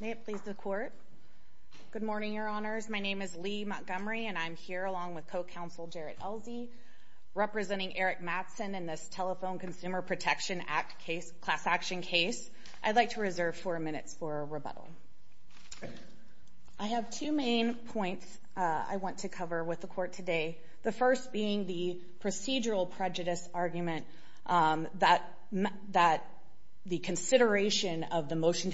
May it please the Court. Good morning, Your Honors. My name is Leigh Montgomery and I'm here along with co-counsel Jarrett Elsey, representing Eric Mattson in this Telephone Consumer Protection Act case, class action case. I'd like to reserve four minutes for rebuttal. I have two main points I want to cover with the Court today. The first being the procedural prejudice argument that the consideration of the motion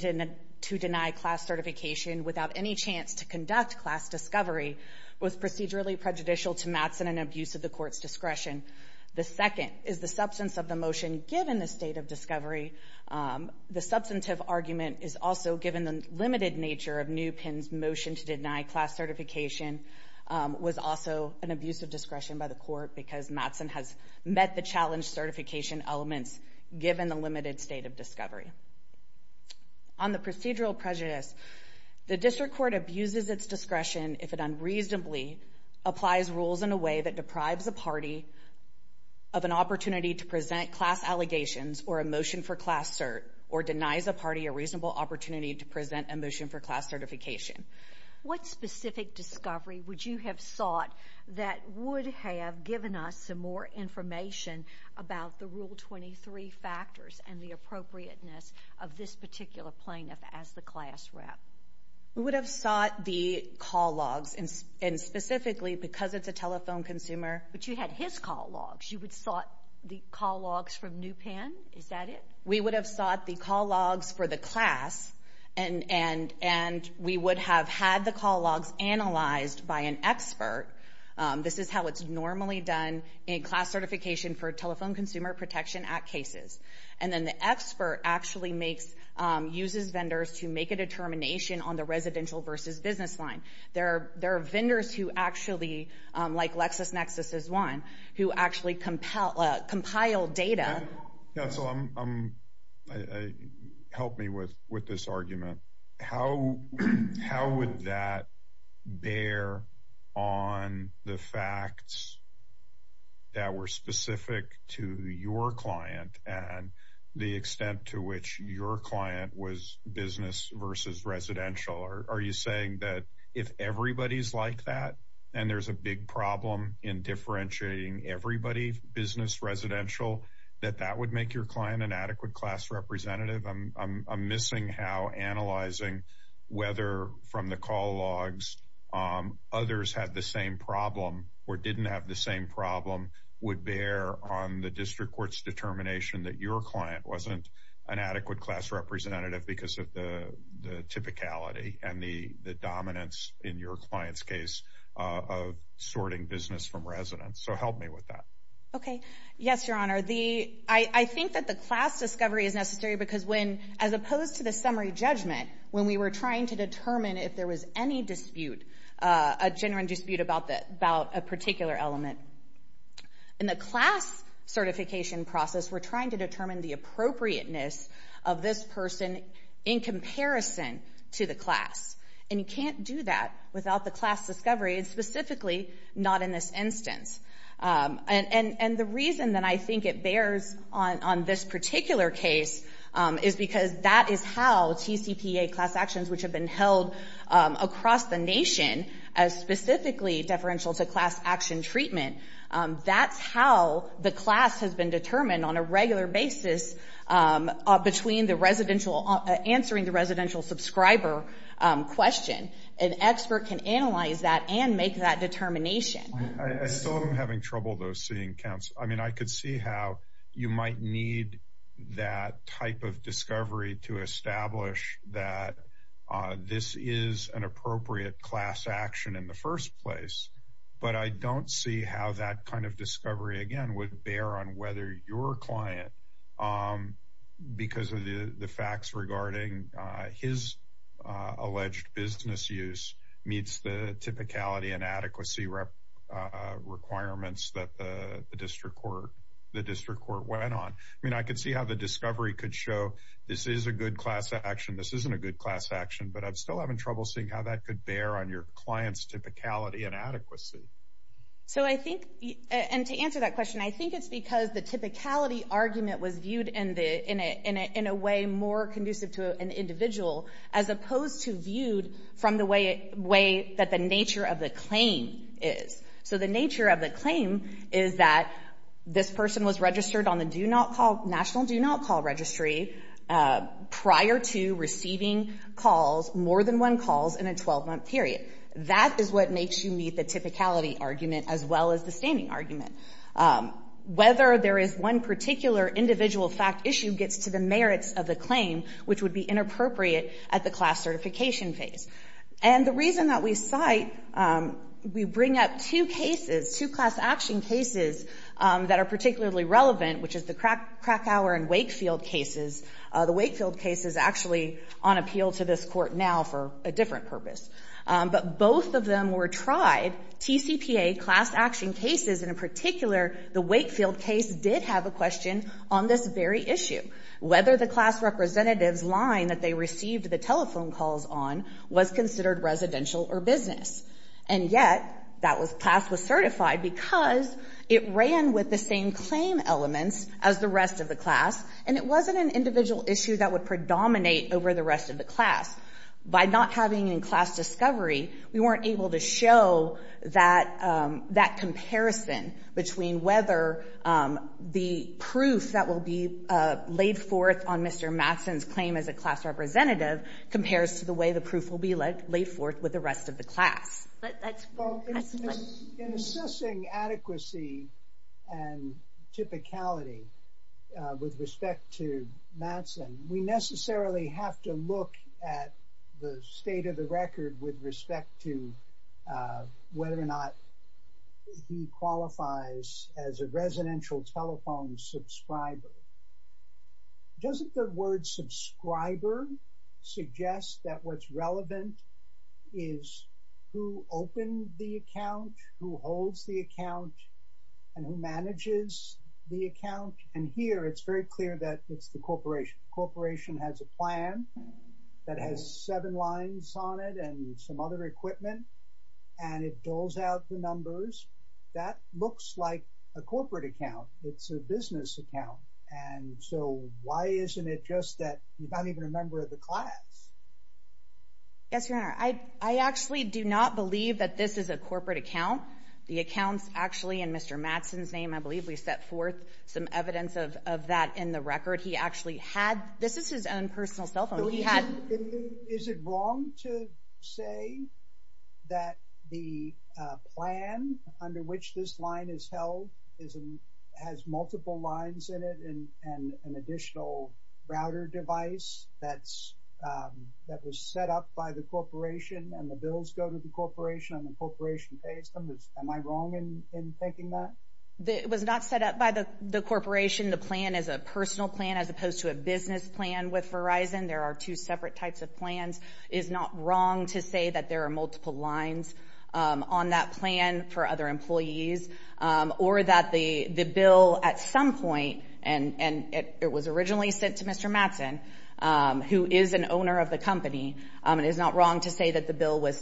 to deny class certification without any chance to conduct class discovery was procedurally prejudicial to Mattson and abuse of the Court's discretion. The second is the substance of the motion given the state of discovery. The substantive argument is also given the limited nature of New Penn's motion to deny class certification was also an abuse of discretion by the Court because Mattson has met the challenge certification elements given the limited state of discovery. On the procedural prejudice, the District Court abuses its discretion if it unreasonably applies rules in a way that deprives a party of an opportunity to present class allegations or a motion for class cert or denies a party a reasonable opportunity to present a motion for class certification. What specific discovery would you have sought that would have given us some more information about the Rule 23 factors and the appropriateness of this particular plaintiff as the class rep? We would have sought the call logs, and specifically because it's a telephone consumer. But you had his call logs. You would have sought the call logs from New Penn? Is that it? We would have sought the call logs for the class, and we would have had the call logs analyzed by an expert. This is how it's normally done in class certification for Telephone Consumer Protection Act cases. And then the expert actually uses vendors to make a determination on the residential versus business line. There are vendors who actually, like LexisNexis is one, who actually compile data. Yeah, so help me with this argument. How would that bear on the facts that were specific to your client and the extent to which your client was business versus residential? Are you saying that if everybody's like that, and there's a big problem in differentiating everybody business residential, that that would make your client an adequate class representative? I'm missing how analyzing whether from the call logs others had the same problem or didn't have the same problem would bear on the district court's determination that your client wasn't an adequate class representative because of the typicality and the dominance in your client's case of sorting business from residence. So help me with that. Okay. Yes, Your Honor. I think that the class discovery is necessary because when, as opposed to the summary judgment, when we were trying to determine if there was any dispute, a genuine dispute about a particular element, in the class certification process, we're trying to determine the appropriateness of this person in comparison to the class. And you can't do that without the class discovery and specifically not in this instance. And the reason that I think it bears on this particular case is because that is how TCPA class actions which have been held across the nation as specifically deferential to class action treatment, that's how the class has been determined on a regular basis between the residential, answering the expert can analyze that and make that determination. I still am having trouble though seeing counts. I mean, I could see how you might need that type of discovery to establish that this is an appropriate class action in the first place. But I don't see how that kind of discovery again would bear on whether your client, because of the facts regarding his alleged business use, meets the typicality and adequacy requirements that the district court went on. I mean, I could see how the discovery could show this is a good class action, this isn't a good class action, but I'm still having trouble seeing how that could bear on your client's typicality and adequacy. So I think, and to answer that question, I think it's because the typicality argument was viewed in a way more conducive to an individual as opposed to viewed from the way that the nature of the claim is. So the nature of the claim is that this person was registered on the do not call, national do not call registry prior to receiving calls, more than one calls in a 12-month period. That is what makes you meet the typicality argument as well as the particular individual fact issue gets to the merits of the claim, which would be inappropriate at the class certification phase. And the reason that we cite, we bring up two cases, two class action cases that are particularly relevant, which is the Krakauer and Wakefield cases. The Wakefield case is actually on appeal to this Court now for a different purpose. But both of them were tried, TCPA class action cases, and in particular, the Wakefield case did have a question on this very issue, whether the class representative's line that they received the telephone calls on was considered residential or business. And yet, that class was certified because it ran with the same claim elements as the rest of the class, and it wasn't an individual issue that would predominate over the rest of the class. By not having in class discovery, we weren't able to show that comparison between whether the proof that will be laid forth on Mr. Mattson's claim as a class representative compares to the way the proof will be laid forth with the rest of the class. But that's... Well, in assessing adequacy and typicality with respect to Mattson, we necessarily have to look at the state of the record with respect to whether or not he qualifies as a residential telephone subscriber. Doesn't the word subscriber suggest that what's relevant is who opened the account, who holds the account, and who manages the account? And here, it's very clear that it's the corporation. The corporation has a plan that has seven lines on it and some other equipment, and it doles out the numbers. That looks like a corporate account. It's a business account. And so, why isn't it just that he's not even a member of the class? Yes, Your Honor. I actually do not believe that this is a corporate account. The account's actually in Mr. Mattson's name. I believe we set forth some evidence of that in the record. He actually had... This is his own personal cell phone. He had... Is it wrong to say that the plan under which this line is held has multiple lines in it and an additional router device that was set up by the corporation and the bills go to the corporation and the corporation pays them? Am I wrong in thinking that? It was not set up by the corporation. The plan is a personal plan as opposed to a business plan with Verizon. There are two separate types of plans. It is not wrong to say that there are multiple lines on that plan for other employees or that the bill at some point, and it was originally sent to Mr. Mattson, who is an owner of the company, it is not wrong to say that the bill was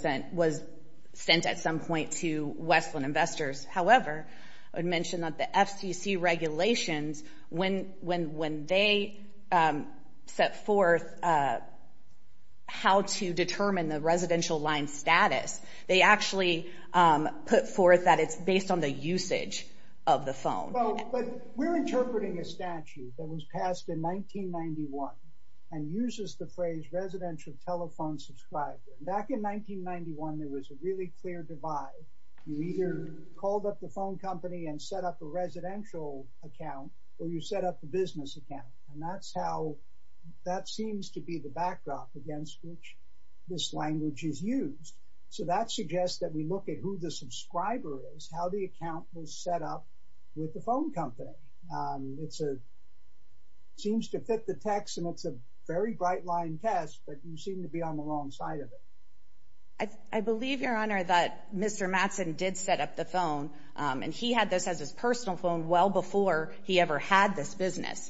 sent at some point to Westland Investors. However, I would mention that the FCC regulations, when they set forth how to determine the residential line status, they actually put forth that it's based on the usage of the phone. We're interpreting a statute that was passed in 1991 and uses the phrase residential telephone subscriber. Back in 1991, there was a really clear divide. You either called up the phone company and set up a residential account or you set up a business account. And that seems to be the backdrop against which this language is used. So that suggests that we look at who the subscriber is, how the account was set up with the phone company. It seems to be the wrong side of it. I believe, Your Honor, that Mr. Mattson did set up the phone and he had this as his personal phone well before he ever had this business.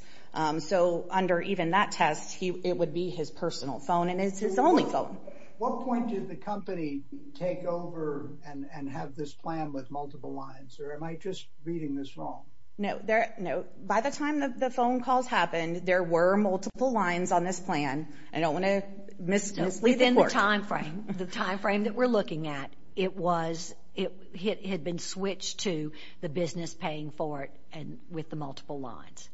So under even that test, it would be his personal phone and it's his only phone. What point did the company take over and have this plan with multiple lines? Or am I just reading this wrong? No. By the time the phone calls happened, there were multiple lines on this plan. I think within the time frame, the time frame that we're looking at, it was, it had been switched to the business paying for it and with the multiple lines.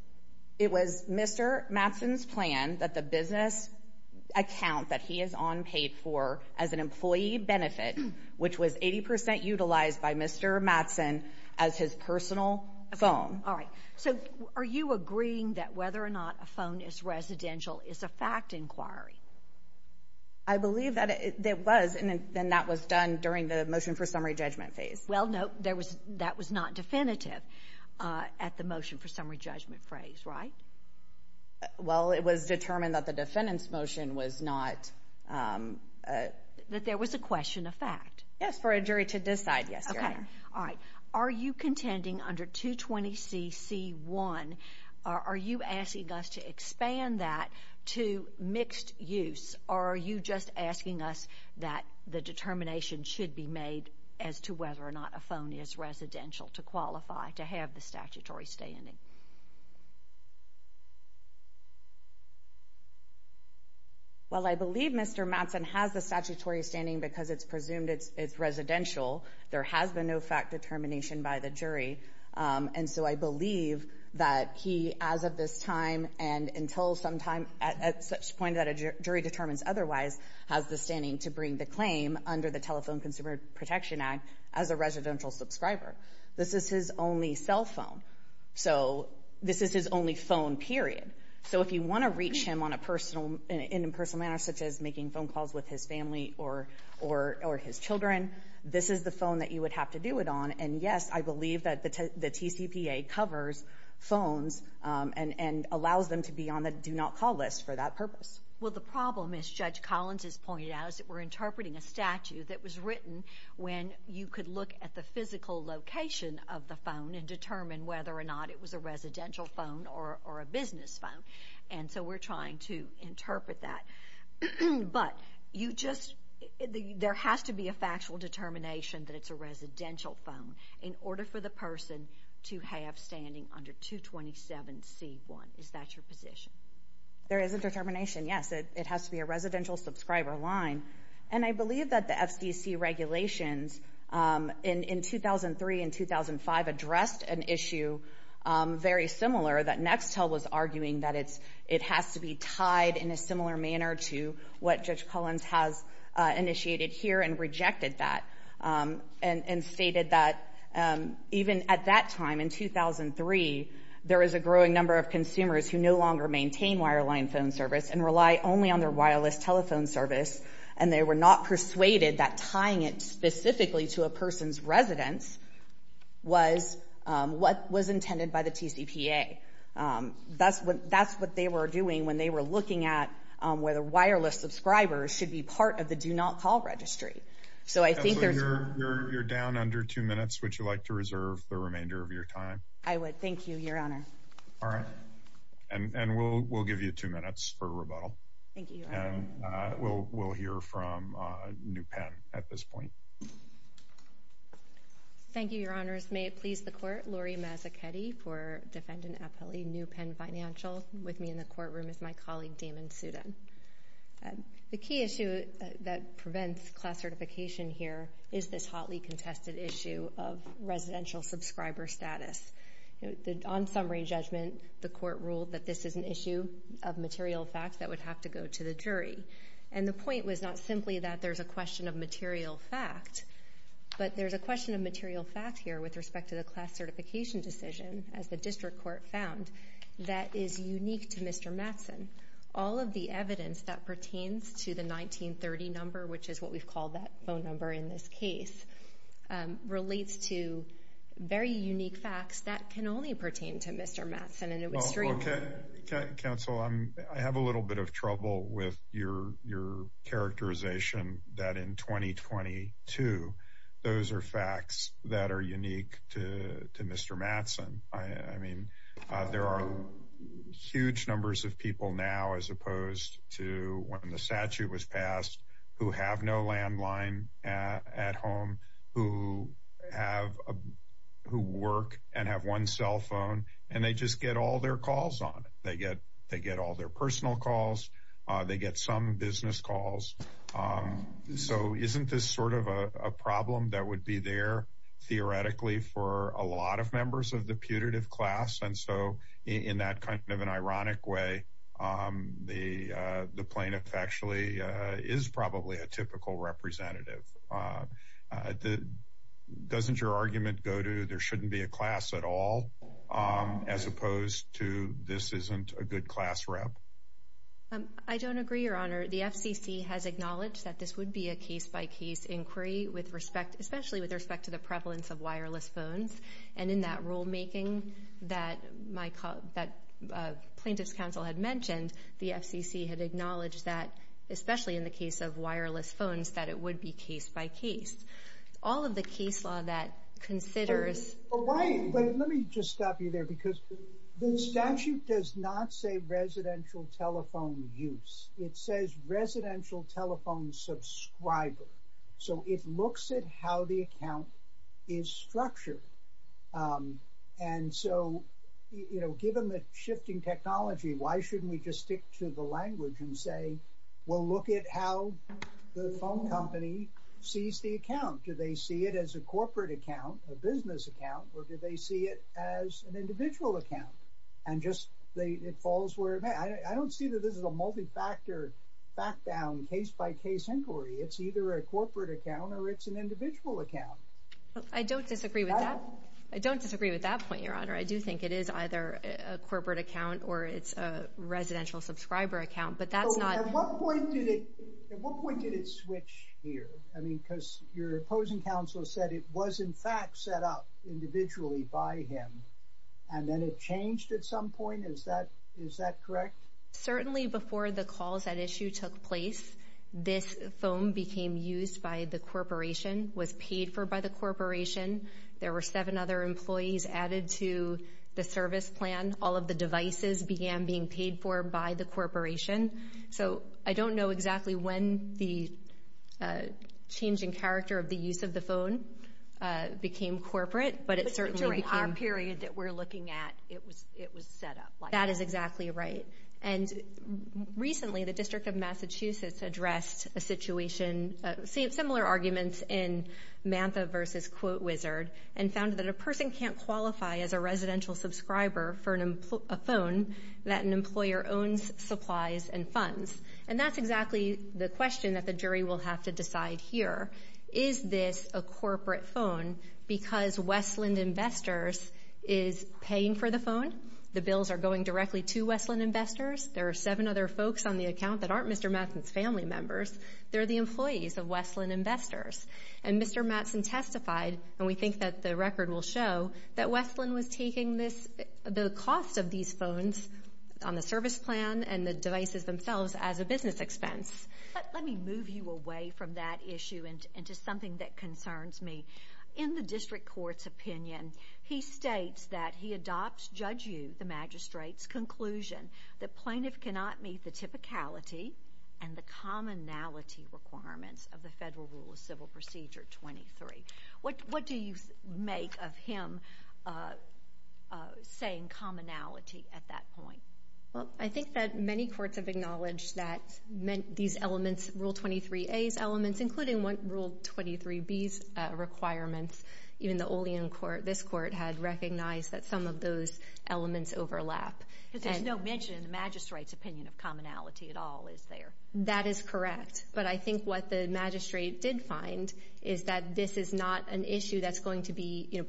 It was Mr. Mattson's plan that the business account that he is on paid for as an employee benefit, which was 80% utilized by Mr. Mattson as his personal phone. All right. So are you agreeing that whether or not a phone is residential is a fact inquiry? I believe that it was and that was done during the motion for summary judgment phase. Well, no, that was not definitive at the motion for summary judgment phase, right? Well, it was determined that the defendant's motion was not... That there was a question of fact. Yes, for a jury to decide, yes, Your Honor. All right. Are you contending under 220CC1, are you asking us to expand that to mixed use? Or are you just asking us that the determination should be made as to whether or not a phone is residential to qualify to have the statutory standing? Well, I believe Mr. Mattson has the statutory standing because it's presumed it's residential. There has been no fact determination by the jury. And so I believe that he, as of this time and until sometime at such point that a jury determines otherwise, has the standing to bring the claim under the Telephone Consumer Protection Act as a residential subscriber. This is his only cell phone. So this is his only phone, period. So if you want to reach him in a personal manner, such as making phone calls with his children, this is the phone that you would have to do it on. And yes, I believe that the TCPA covers phones and allows them to be on the do not call list for that purpose. Well, the problem, as Judge Collins has pointed out, is that we're interpreting a statute that was written when you could look at the physical location of the phone and determine whether or not it was a residential phone or a business phone. And so we're trying to interpret that. But there has to be a factual determination that it's a residential phone in order for the person to have standing under 227C1. Is that your position? There is a determination, yes. It has to be a residential subscriber line. And I believe that the FDC regulations in 2003 and 2005 addressed an issue very similar that Nextel was arguing that it has to be tied in a similar manner to what Judge Collins has initiated here and rejected that and stated that even at that time, in 2003, there is a growing number of consumers who no longer maintain wireline phone service and rely only on their wireless telephone service. And they were not persuaded that tying it specifically to a person's residence was what they were doing when they were looking at whether wireless subscribers should be part of the Do Not Call registry. So I think there's... So you're down under two minutes. Would you like to reserve the remainder of your time? I would. Thank you, Your Honor. All right. And we'll give you two minutes for rebuttal. Thank you, Your Honor. And we'll hear from New Penn at this point. Thank you, Your Honors. First, may it please the Court, Lori Mazzachetti for Defendant Appellee, New Penn Financial. With me in the courtroom is my colleague Damon Sudin. The key issue that prevents class certification here is this hotly contested issue of residential subscriber status. On summary judgment, the Court ruled that this is an issue of material facts that would have to go to the jury. And the point was not simply that there's a question of material fact, but there's a question with respect to the class certification decision, as the District Court found, that is unique to Mr. Mattson. All of the evidence that pertains to the 1930 number, which is what we've called that phone number in this case, relates to very unique facts that can only pertain to Mr. Mattson. And it would stream... Oh, okay. Counsel, I have a little bit of trouble with your characterization that in 2022, those are facts that are unique to Mr. Mattson. I mean, there are huge numbers of people now, as opposed to when the statute was passed, who have no landline at home, who work and have one cell phone, and they just get all their calls on it. They get all their personal calls. They get some business calls. So isn't this sort of a problem that would be there theoretically for a lot of members of the putative class? And so in that kind of an ironic way, the plaintiff actually is probably a typical representative. Doesn't your argument go to there shouldn't be a class at all, as opposed to this isn't a good class rep? I don't agree, Your Honor. The FCC has acknowledged that this would be a case-by-case inquiry, especially with respect to the prevalence of wireless phones. And in that rulemaking that Plaintiff's Counsel had mentioned, the FCC had acknowledged that, especially in the case of wireless phones, that it would be case-by-case. All of the case law that considers... But let me just stop you there, because the statute does not say residential telephone use. It says residential telephone subscriber. So it looks at how the account is structured. And so given the shifting technology, why shouldn't we just stick to the language and say, well, look at how the phone company sees the account. Do they see it as a corporate account, a business account, or do they see it as an individual account? And just it falls where it may. I don't see that this is a multi-factor, back-down, case-by-case inquiry. It's either a corporate account or it's an individual account. I don't disagree with that. I don't disagree with that point, Your Honor. I do think it is either a corporate account or it's a residential subscriber account. But that's not... At what point did it switch here? I mean, because your opposing counsel said it was, in fact, set up individually by him. And then it changed at some point. Is that correct? Certainly before the calls at issue took place, this phone became used by the corporation, was paid for by the corporation. There were seven other employees added to the service plan. All of the devices began being paid for by the corporation. So I don't know exactly when the change in character of the use of the phone became corporate, but it certainly became... That is exactly right. And recently, the District of Massachusetts addressed a situation, similar arguments in Mantha v. Quote Wizard, and found that a person can't qualify as a residential subscriber for a phone that an employer owns, supplies, and funds. And that's exactly the question that the jury will have to decide here. Is this a corporate phone because Westland Investors is paying for the phone? The bills are going directly to Westland Investors. There are seven other folks on the account that aren't Mr. Matson's family members. They're the employees of Westland Investors. And Mr. Matson testified, and we think that the record will show, that Westland was taking the cost of these phones on the service plan and the devices themselves as a business expense. Let me move you away from that issue and to something that concerns me. In the district court's opinion, he states that he adopts, judge you, the magistrate's conclusion that plaintiff cannot meet the typicality and the commonality requirements of the Federal Rule of Civil Procedure 23. What do you make of him saying commonality at that point? Well, I think that many courts have acknowledged that these elements, Rule 23A's elements, including Rule 23B's requirements, even the Olean court, this court, had recognized that some of those elements overlap. Because there's no mention in the magistrate's opinion of commonality at all, is there? That is correct. But I think what the magistrate did find is that this is not an issue that's going to be,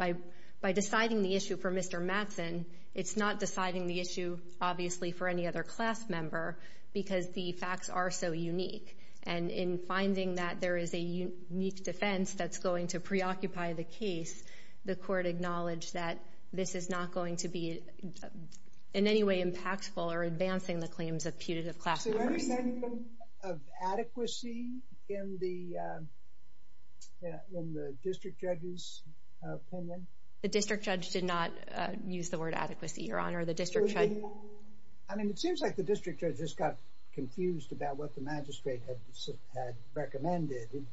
by deciding the issue for Mr. Matson, it's not deciding the issue, obviously, for any other class member because the facts are so unique. And in finding that there is a unique defense that's going to preoccupy the case, the court acknowledged that this is not going to be in any way impactful or advancing the claims of putative class members. So what do you think of adequacy in the district judge's opinion? I mean, it seems like the district judge just got confused about what the magistrate had recommended. It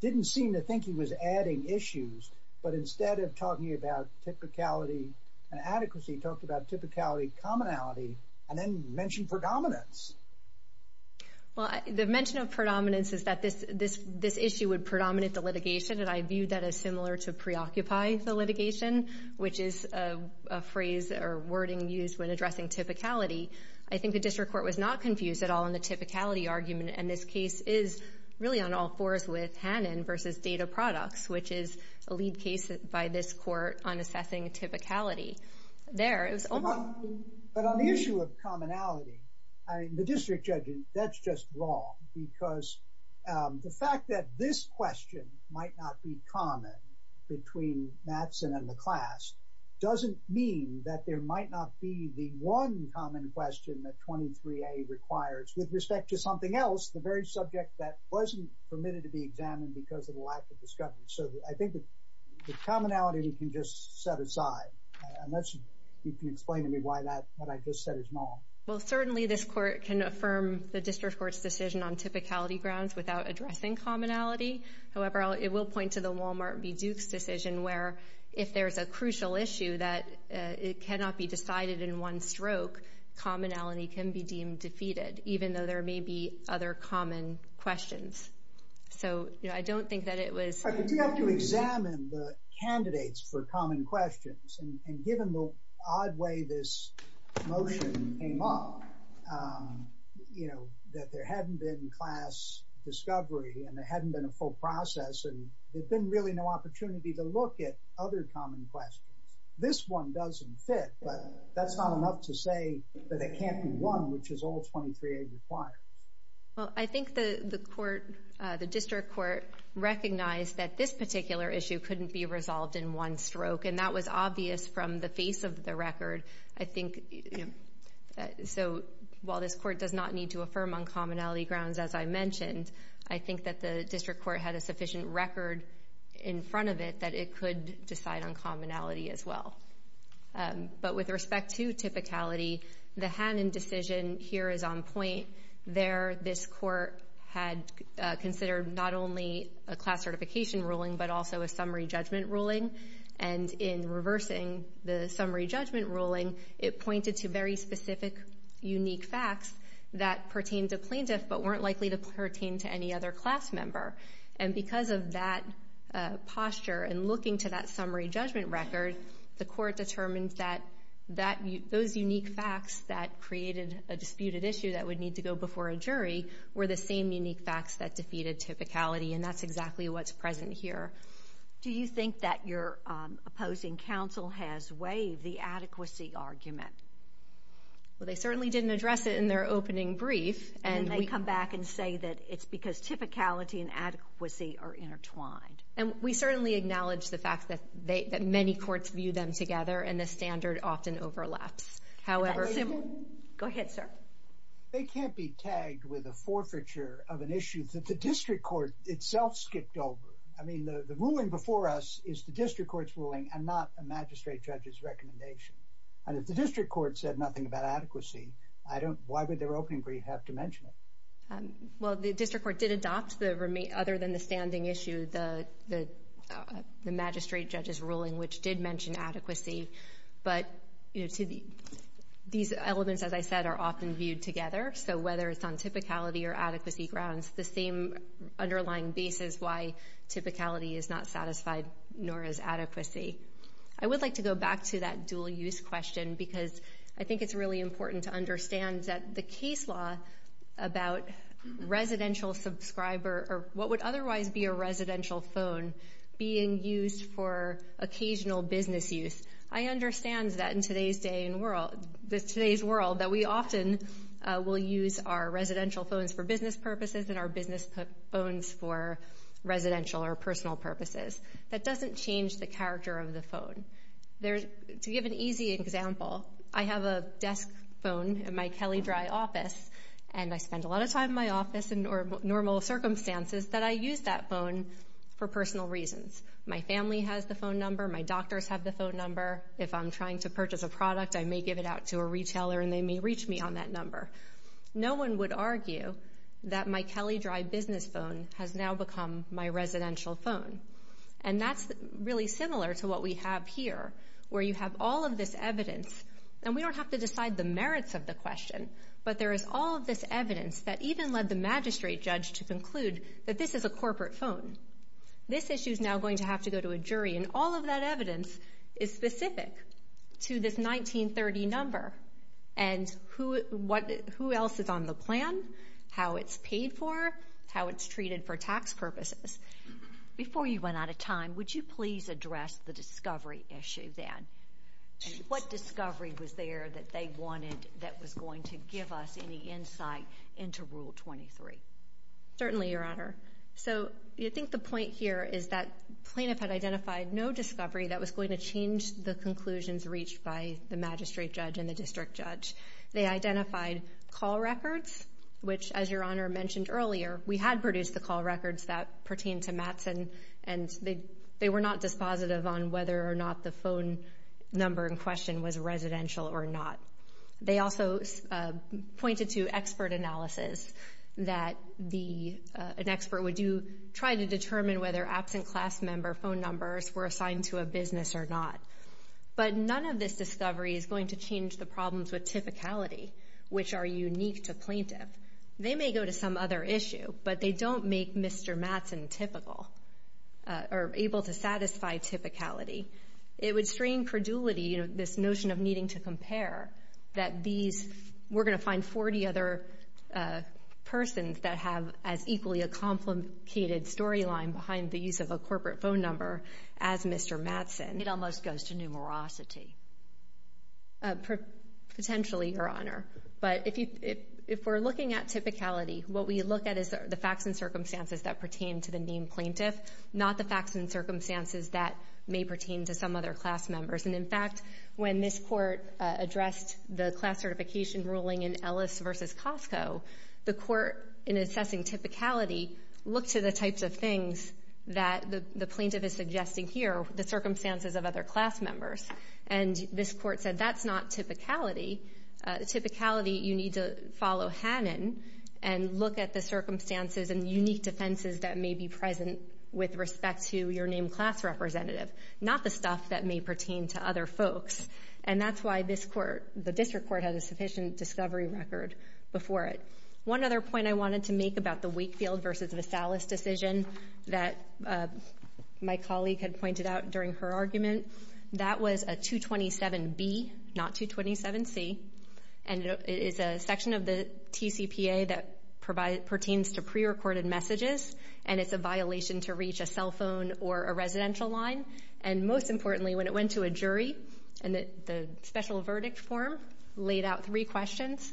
didn't seem to think he was adding issues, but instead of talking about typicality and adequacy, he talked about typicality, commonality, and then mentioned predominance. Well, the mention of predominance is that this issue would predominate the litigation, and I view that as similar to preoccupy the litigation, which is a phrase or wording used when addressing typicality. I think the district court was not confused at all in the typicality argument, and this case is really on all fours with Hannon versus Data Products, which is a lead case by this court on assessing typicality. But on the issue of commonality, the district judge, that's just wrong because the fact that this question might not be common between Mattson and McClast doesn't mean that there might not be the one common question that 23A requires. With respect to something else, the very subject that wasn't permitted to be examined because of the lack of discovery. So I think the commonality we can just set aside. Unless you can explain to me why what I just said is wrong. Well, certainly this court can affirm the district court's decision on typicality grounds without addressing commonality. However, it will point to the Wal-Mart v. Duke's decision where if there's a crucial issue that cannot be decided in one stroke, commonality can be deemed defeated, even though there may be other common questions. So I don't think that it was... But you have to examine the candidates for common questions, and given the odd way this motion came up, that there hadn't been class discovery and there hadn't been a full process, and there'd been really no opportunity to look at other common questions. This one doesn't fit, but that's not enough to say that it can't be one, which is all 23A requires. Well, I think the court, the district court, recognized that this particular issue couldn't be resolved in one stroke, and that was obvious from the face of the record. I think... So while this court does not need to affirm on commonality grounds, as I mentioned, I think that the district court had a sufficient record in front of it that it could decide on commonality as well. But with respect to typicality, the Hannon decision here is on point. There, this court had considered not only a class certification ruling but also a summary judgment ruling, and in reversing the summary judgment ruling, it pointed to very specific, unique facts that pertained to plaintiffs but weren't likely to pertain to any other class member. And because of that posture and looking to that summary judgment record, the court determined that those unique facts that created a disputed issue that would need to go before a jury were the same unique facts that defeated typicality, and that's exactly what's present here. Do you think that your opposing counsel has waived the adequacy argument? Well, they certainly didn't address it in their opening brief. And they come back and say that it's because typicality and adequacy are intertwined. And we certainly acknowledge the fact that many courts view them together and the standard often overlaps. Go ahead, sir. They can't be tagged with a forfeiture of an issue that the district court itself skipped over. I mean, the ruling before us is the district court's ruling and not a magistrate judge's recommendation. And if the district court said nothing about adequacy, why would their opening brief have to mention it? Well, the district court did adopt, other than the standing issue, the magistrate judge's ruling, which did mention adequacy. But these elements, as I said, are often viewed together. So whether it's on typicality or adequacy grounds, the same underlying basis why typicality is not satisfied nor is adequacy. I would like to go back to that dual-use question because I think it's really important to understand that the case law about residential subscriber or what would otherwise be a residential phone being used for occasional business use, I understand that in today's world that we often will use our residential phones for business purposes and our business phones for residential or personal purposes. That doesn't change the character of the phone. To give an easy example, I have a desk phone in my Kelly Dry office, and I spend a lot of time in my office in normal circumstances that I use that phone for personal reasons. My family has the phone number. My doctors have the phone number. If I'm trying to purchase a product, I may give it out to a retailer, and they may reach me on that number. No one would argue that my Kelly Dry business phone has now become my residential phone. And that's really similar to what we have here where you have all of this evidence, and we don't have to decide the merits of the question, but there is all of this evidence that even led the magistrate judge to conclude that this is a corporate phone. This issue is now going to have to go to a jury, and all of that evidence is specific to this 1930 number and who else is on the plan, how it's paid for, how it's treated for tax purposes. Before you run out of time, would you please address the discovery issue then? What discovery was there that they wanted that was going to give us any insight into Rule 23? Certainly, Your Honor. So I think the point here is that plaintiff had identified no discovery that was going to change the conclusions reached by the magistrate judge and the district judge. They identified call records, which, as Your Honor mentioned earlier, we had produced the call records that pertained to Mattson, and they were not dispositive on whether or not the phone number in question was residential or not. They also pointed to expert analysis, that an expert would try to determine whether absent class member phone numbers were assigned to a business or not. But none of this discovery is going to change the problems with typicality, which are unique to plaintiff. They may go to some other issue, but they don't make Mr. Mattson typical or able to satisfy typicality. It would strain credulity, you know, this notion of needing to compare, that these we're going to find 40 other persons that have as equally a complicated storyline behind the use of a corporate phone number as Mr. Mattson. It almost goes to numerosity. Potentially, Your Honor. But if we're looking at typicality, what we look at is the facts and circumstances that pertain to the named plaintiff, not the facts and circumstances that may pertain to some other class members. And, in fact, when this court addressed the class certification ruling in Ellis v. Costco, the court, in assessing typicality, looked to the types of things that the plaintiff is suggesting here, the circumstances of other class members, and this court said that's not typicality. Typicality, you need to follow Hannon and look at the circumstances and unique defenses that may be present with respect to your named class representative, not the stuff that may pertain to other folks. And that's why this court, the district court, had a sufficient discovery record before it. One other point I wanted to make about the Wakefield v. Vassalis decision that my colleague had pointed out during her argument, that was a 227B, not 227C, and it is a section of the TCPA that pertains to prerecorded messages, and it's a violation to reach a cell phone or a residential line. And most importantly, when it went to a jury and the special verdict form laid out three questions,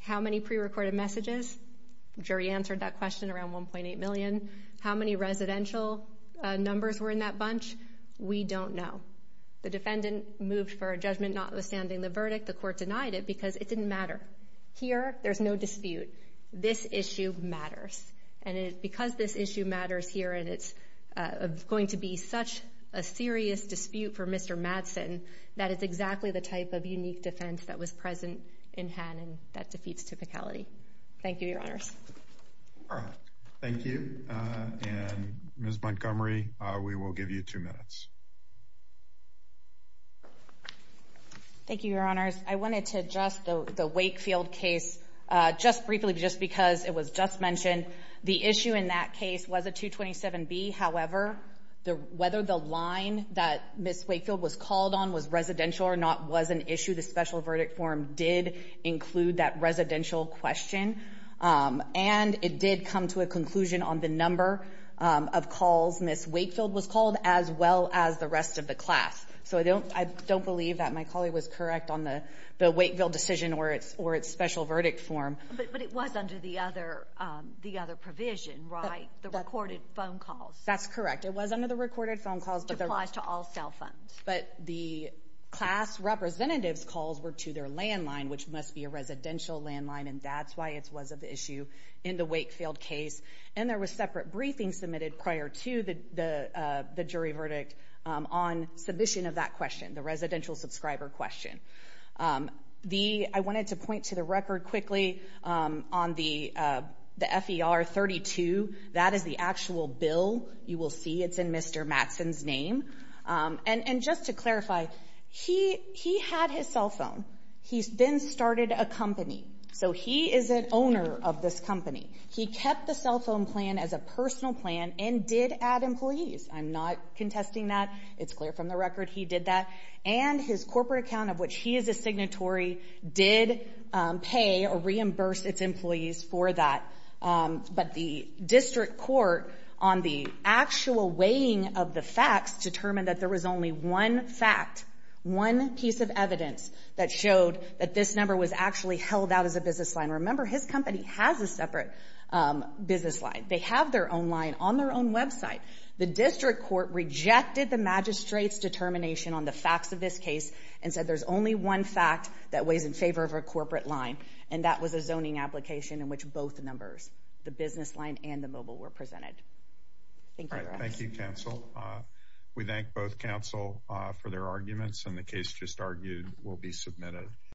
how many prerecorded messages, jury answered that question around 1.8 million, how many residential numbers were in that bunch, we don't know. The defendant moved for a judgment notwithstanding the verdict. The court denied it because it didn't matter. Here, there's no dispute. This issue matters, and because this issue matters here and it's going to be such a serious dispute for Mr. Madsen, that is exactly the type of unique defense that was present in Hannon that defeats typicality. Thank you, Your Honors. Thank you, and Ms. Montgomery, we will give you two minutes. Thank you, Your Honors. I wanted to address the Wakefield case just briefly just because it was just mentioned. The issue in that case was a 227B. However, whether the line that Ms. Wakefield was called on was residential or not was an issue. The special verdict form did include that residential question. And it did come to a conclusion on the number of calls Ms. Wakefield was called as well as the rest of the class. So I don't believe that my colleague was correct on the Wakefield decision or its special verdict form. But it was under the other provision, right, the recorded phone calls? That's correct. It was under the recorded phone calls. It applies to all cell phones. But the class representative's calls were to their landline, which must be a residential landline, and that's why it was of issue in the Wakefield case. And there was separate briefing submitted prior to the jury verdict on submission of that question, the residential subscriber question. I wanted to point to the record quickly on the FER32. That is the actual bill. You will see it's in Mr. Mattson's name. And just to clarify, he had his cell phone. He then started a company. So he is an owner of this company. He kept the cell phone plan as a personal plan and did add employees. I'm not contesting that. It's clear from the record he did that. And his corporate account, of which he is a signatory, did pay or reimburse its employees for that. But the district court, on the actual weighing of the facts, determined that there was only one fact, one piece of evidence, that showed that this number was actually held out as a business line. Remember, his company has a separate business line. They have their own line on their own website. The district court rejected the magistrate's determination on the facts of this case and said there's only one fact that weighs in favor of a corporate line, and that was a zoning application in which both numbers, the business line and the mobile, were presented. Thank you. Thank you, counsel. We thank both counsel for their arguments, and the case just argued will be submitted.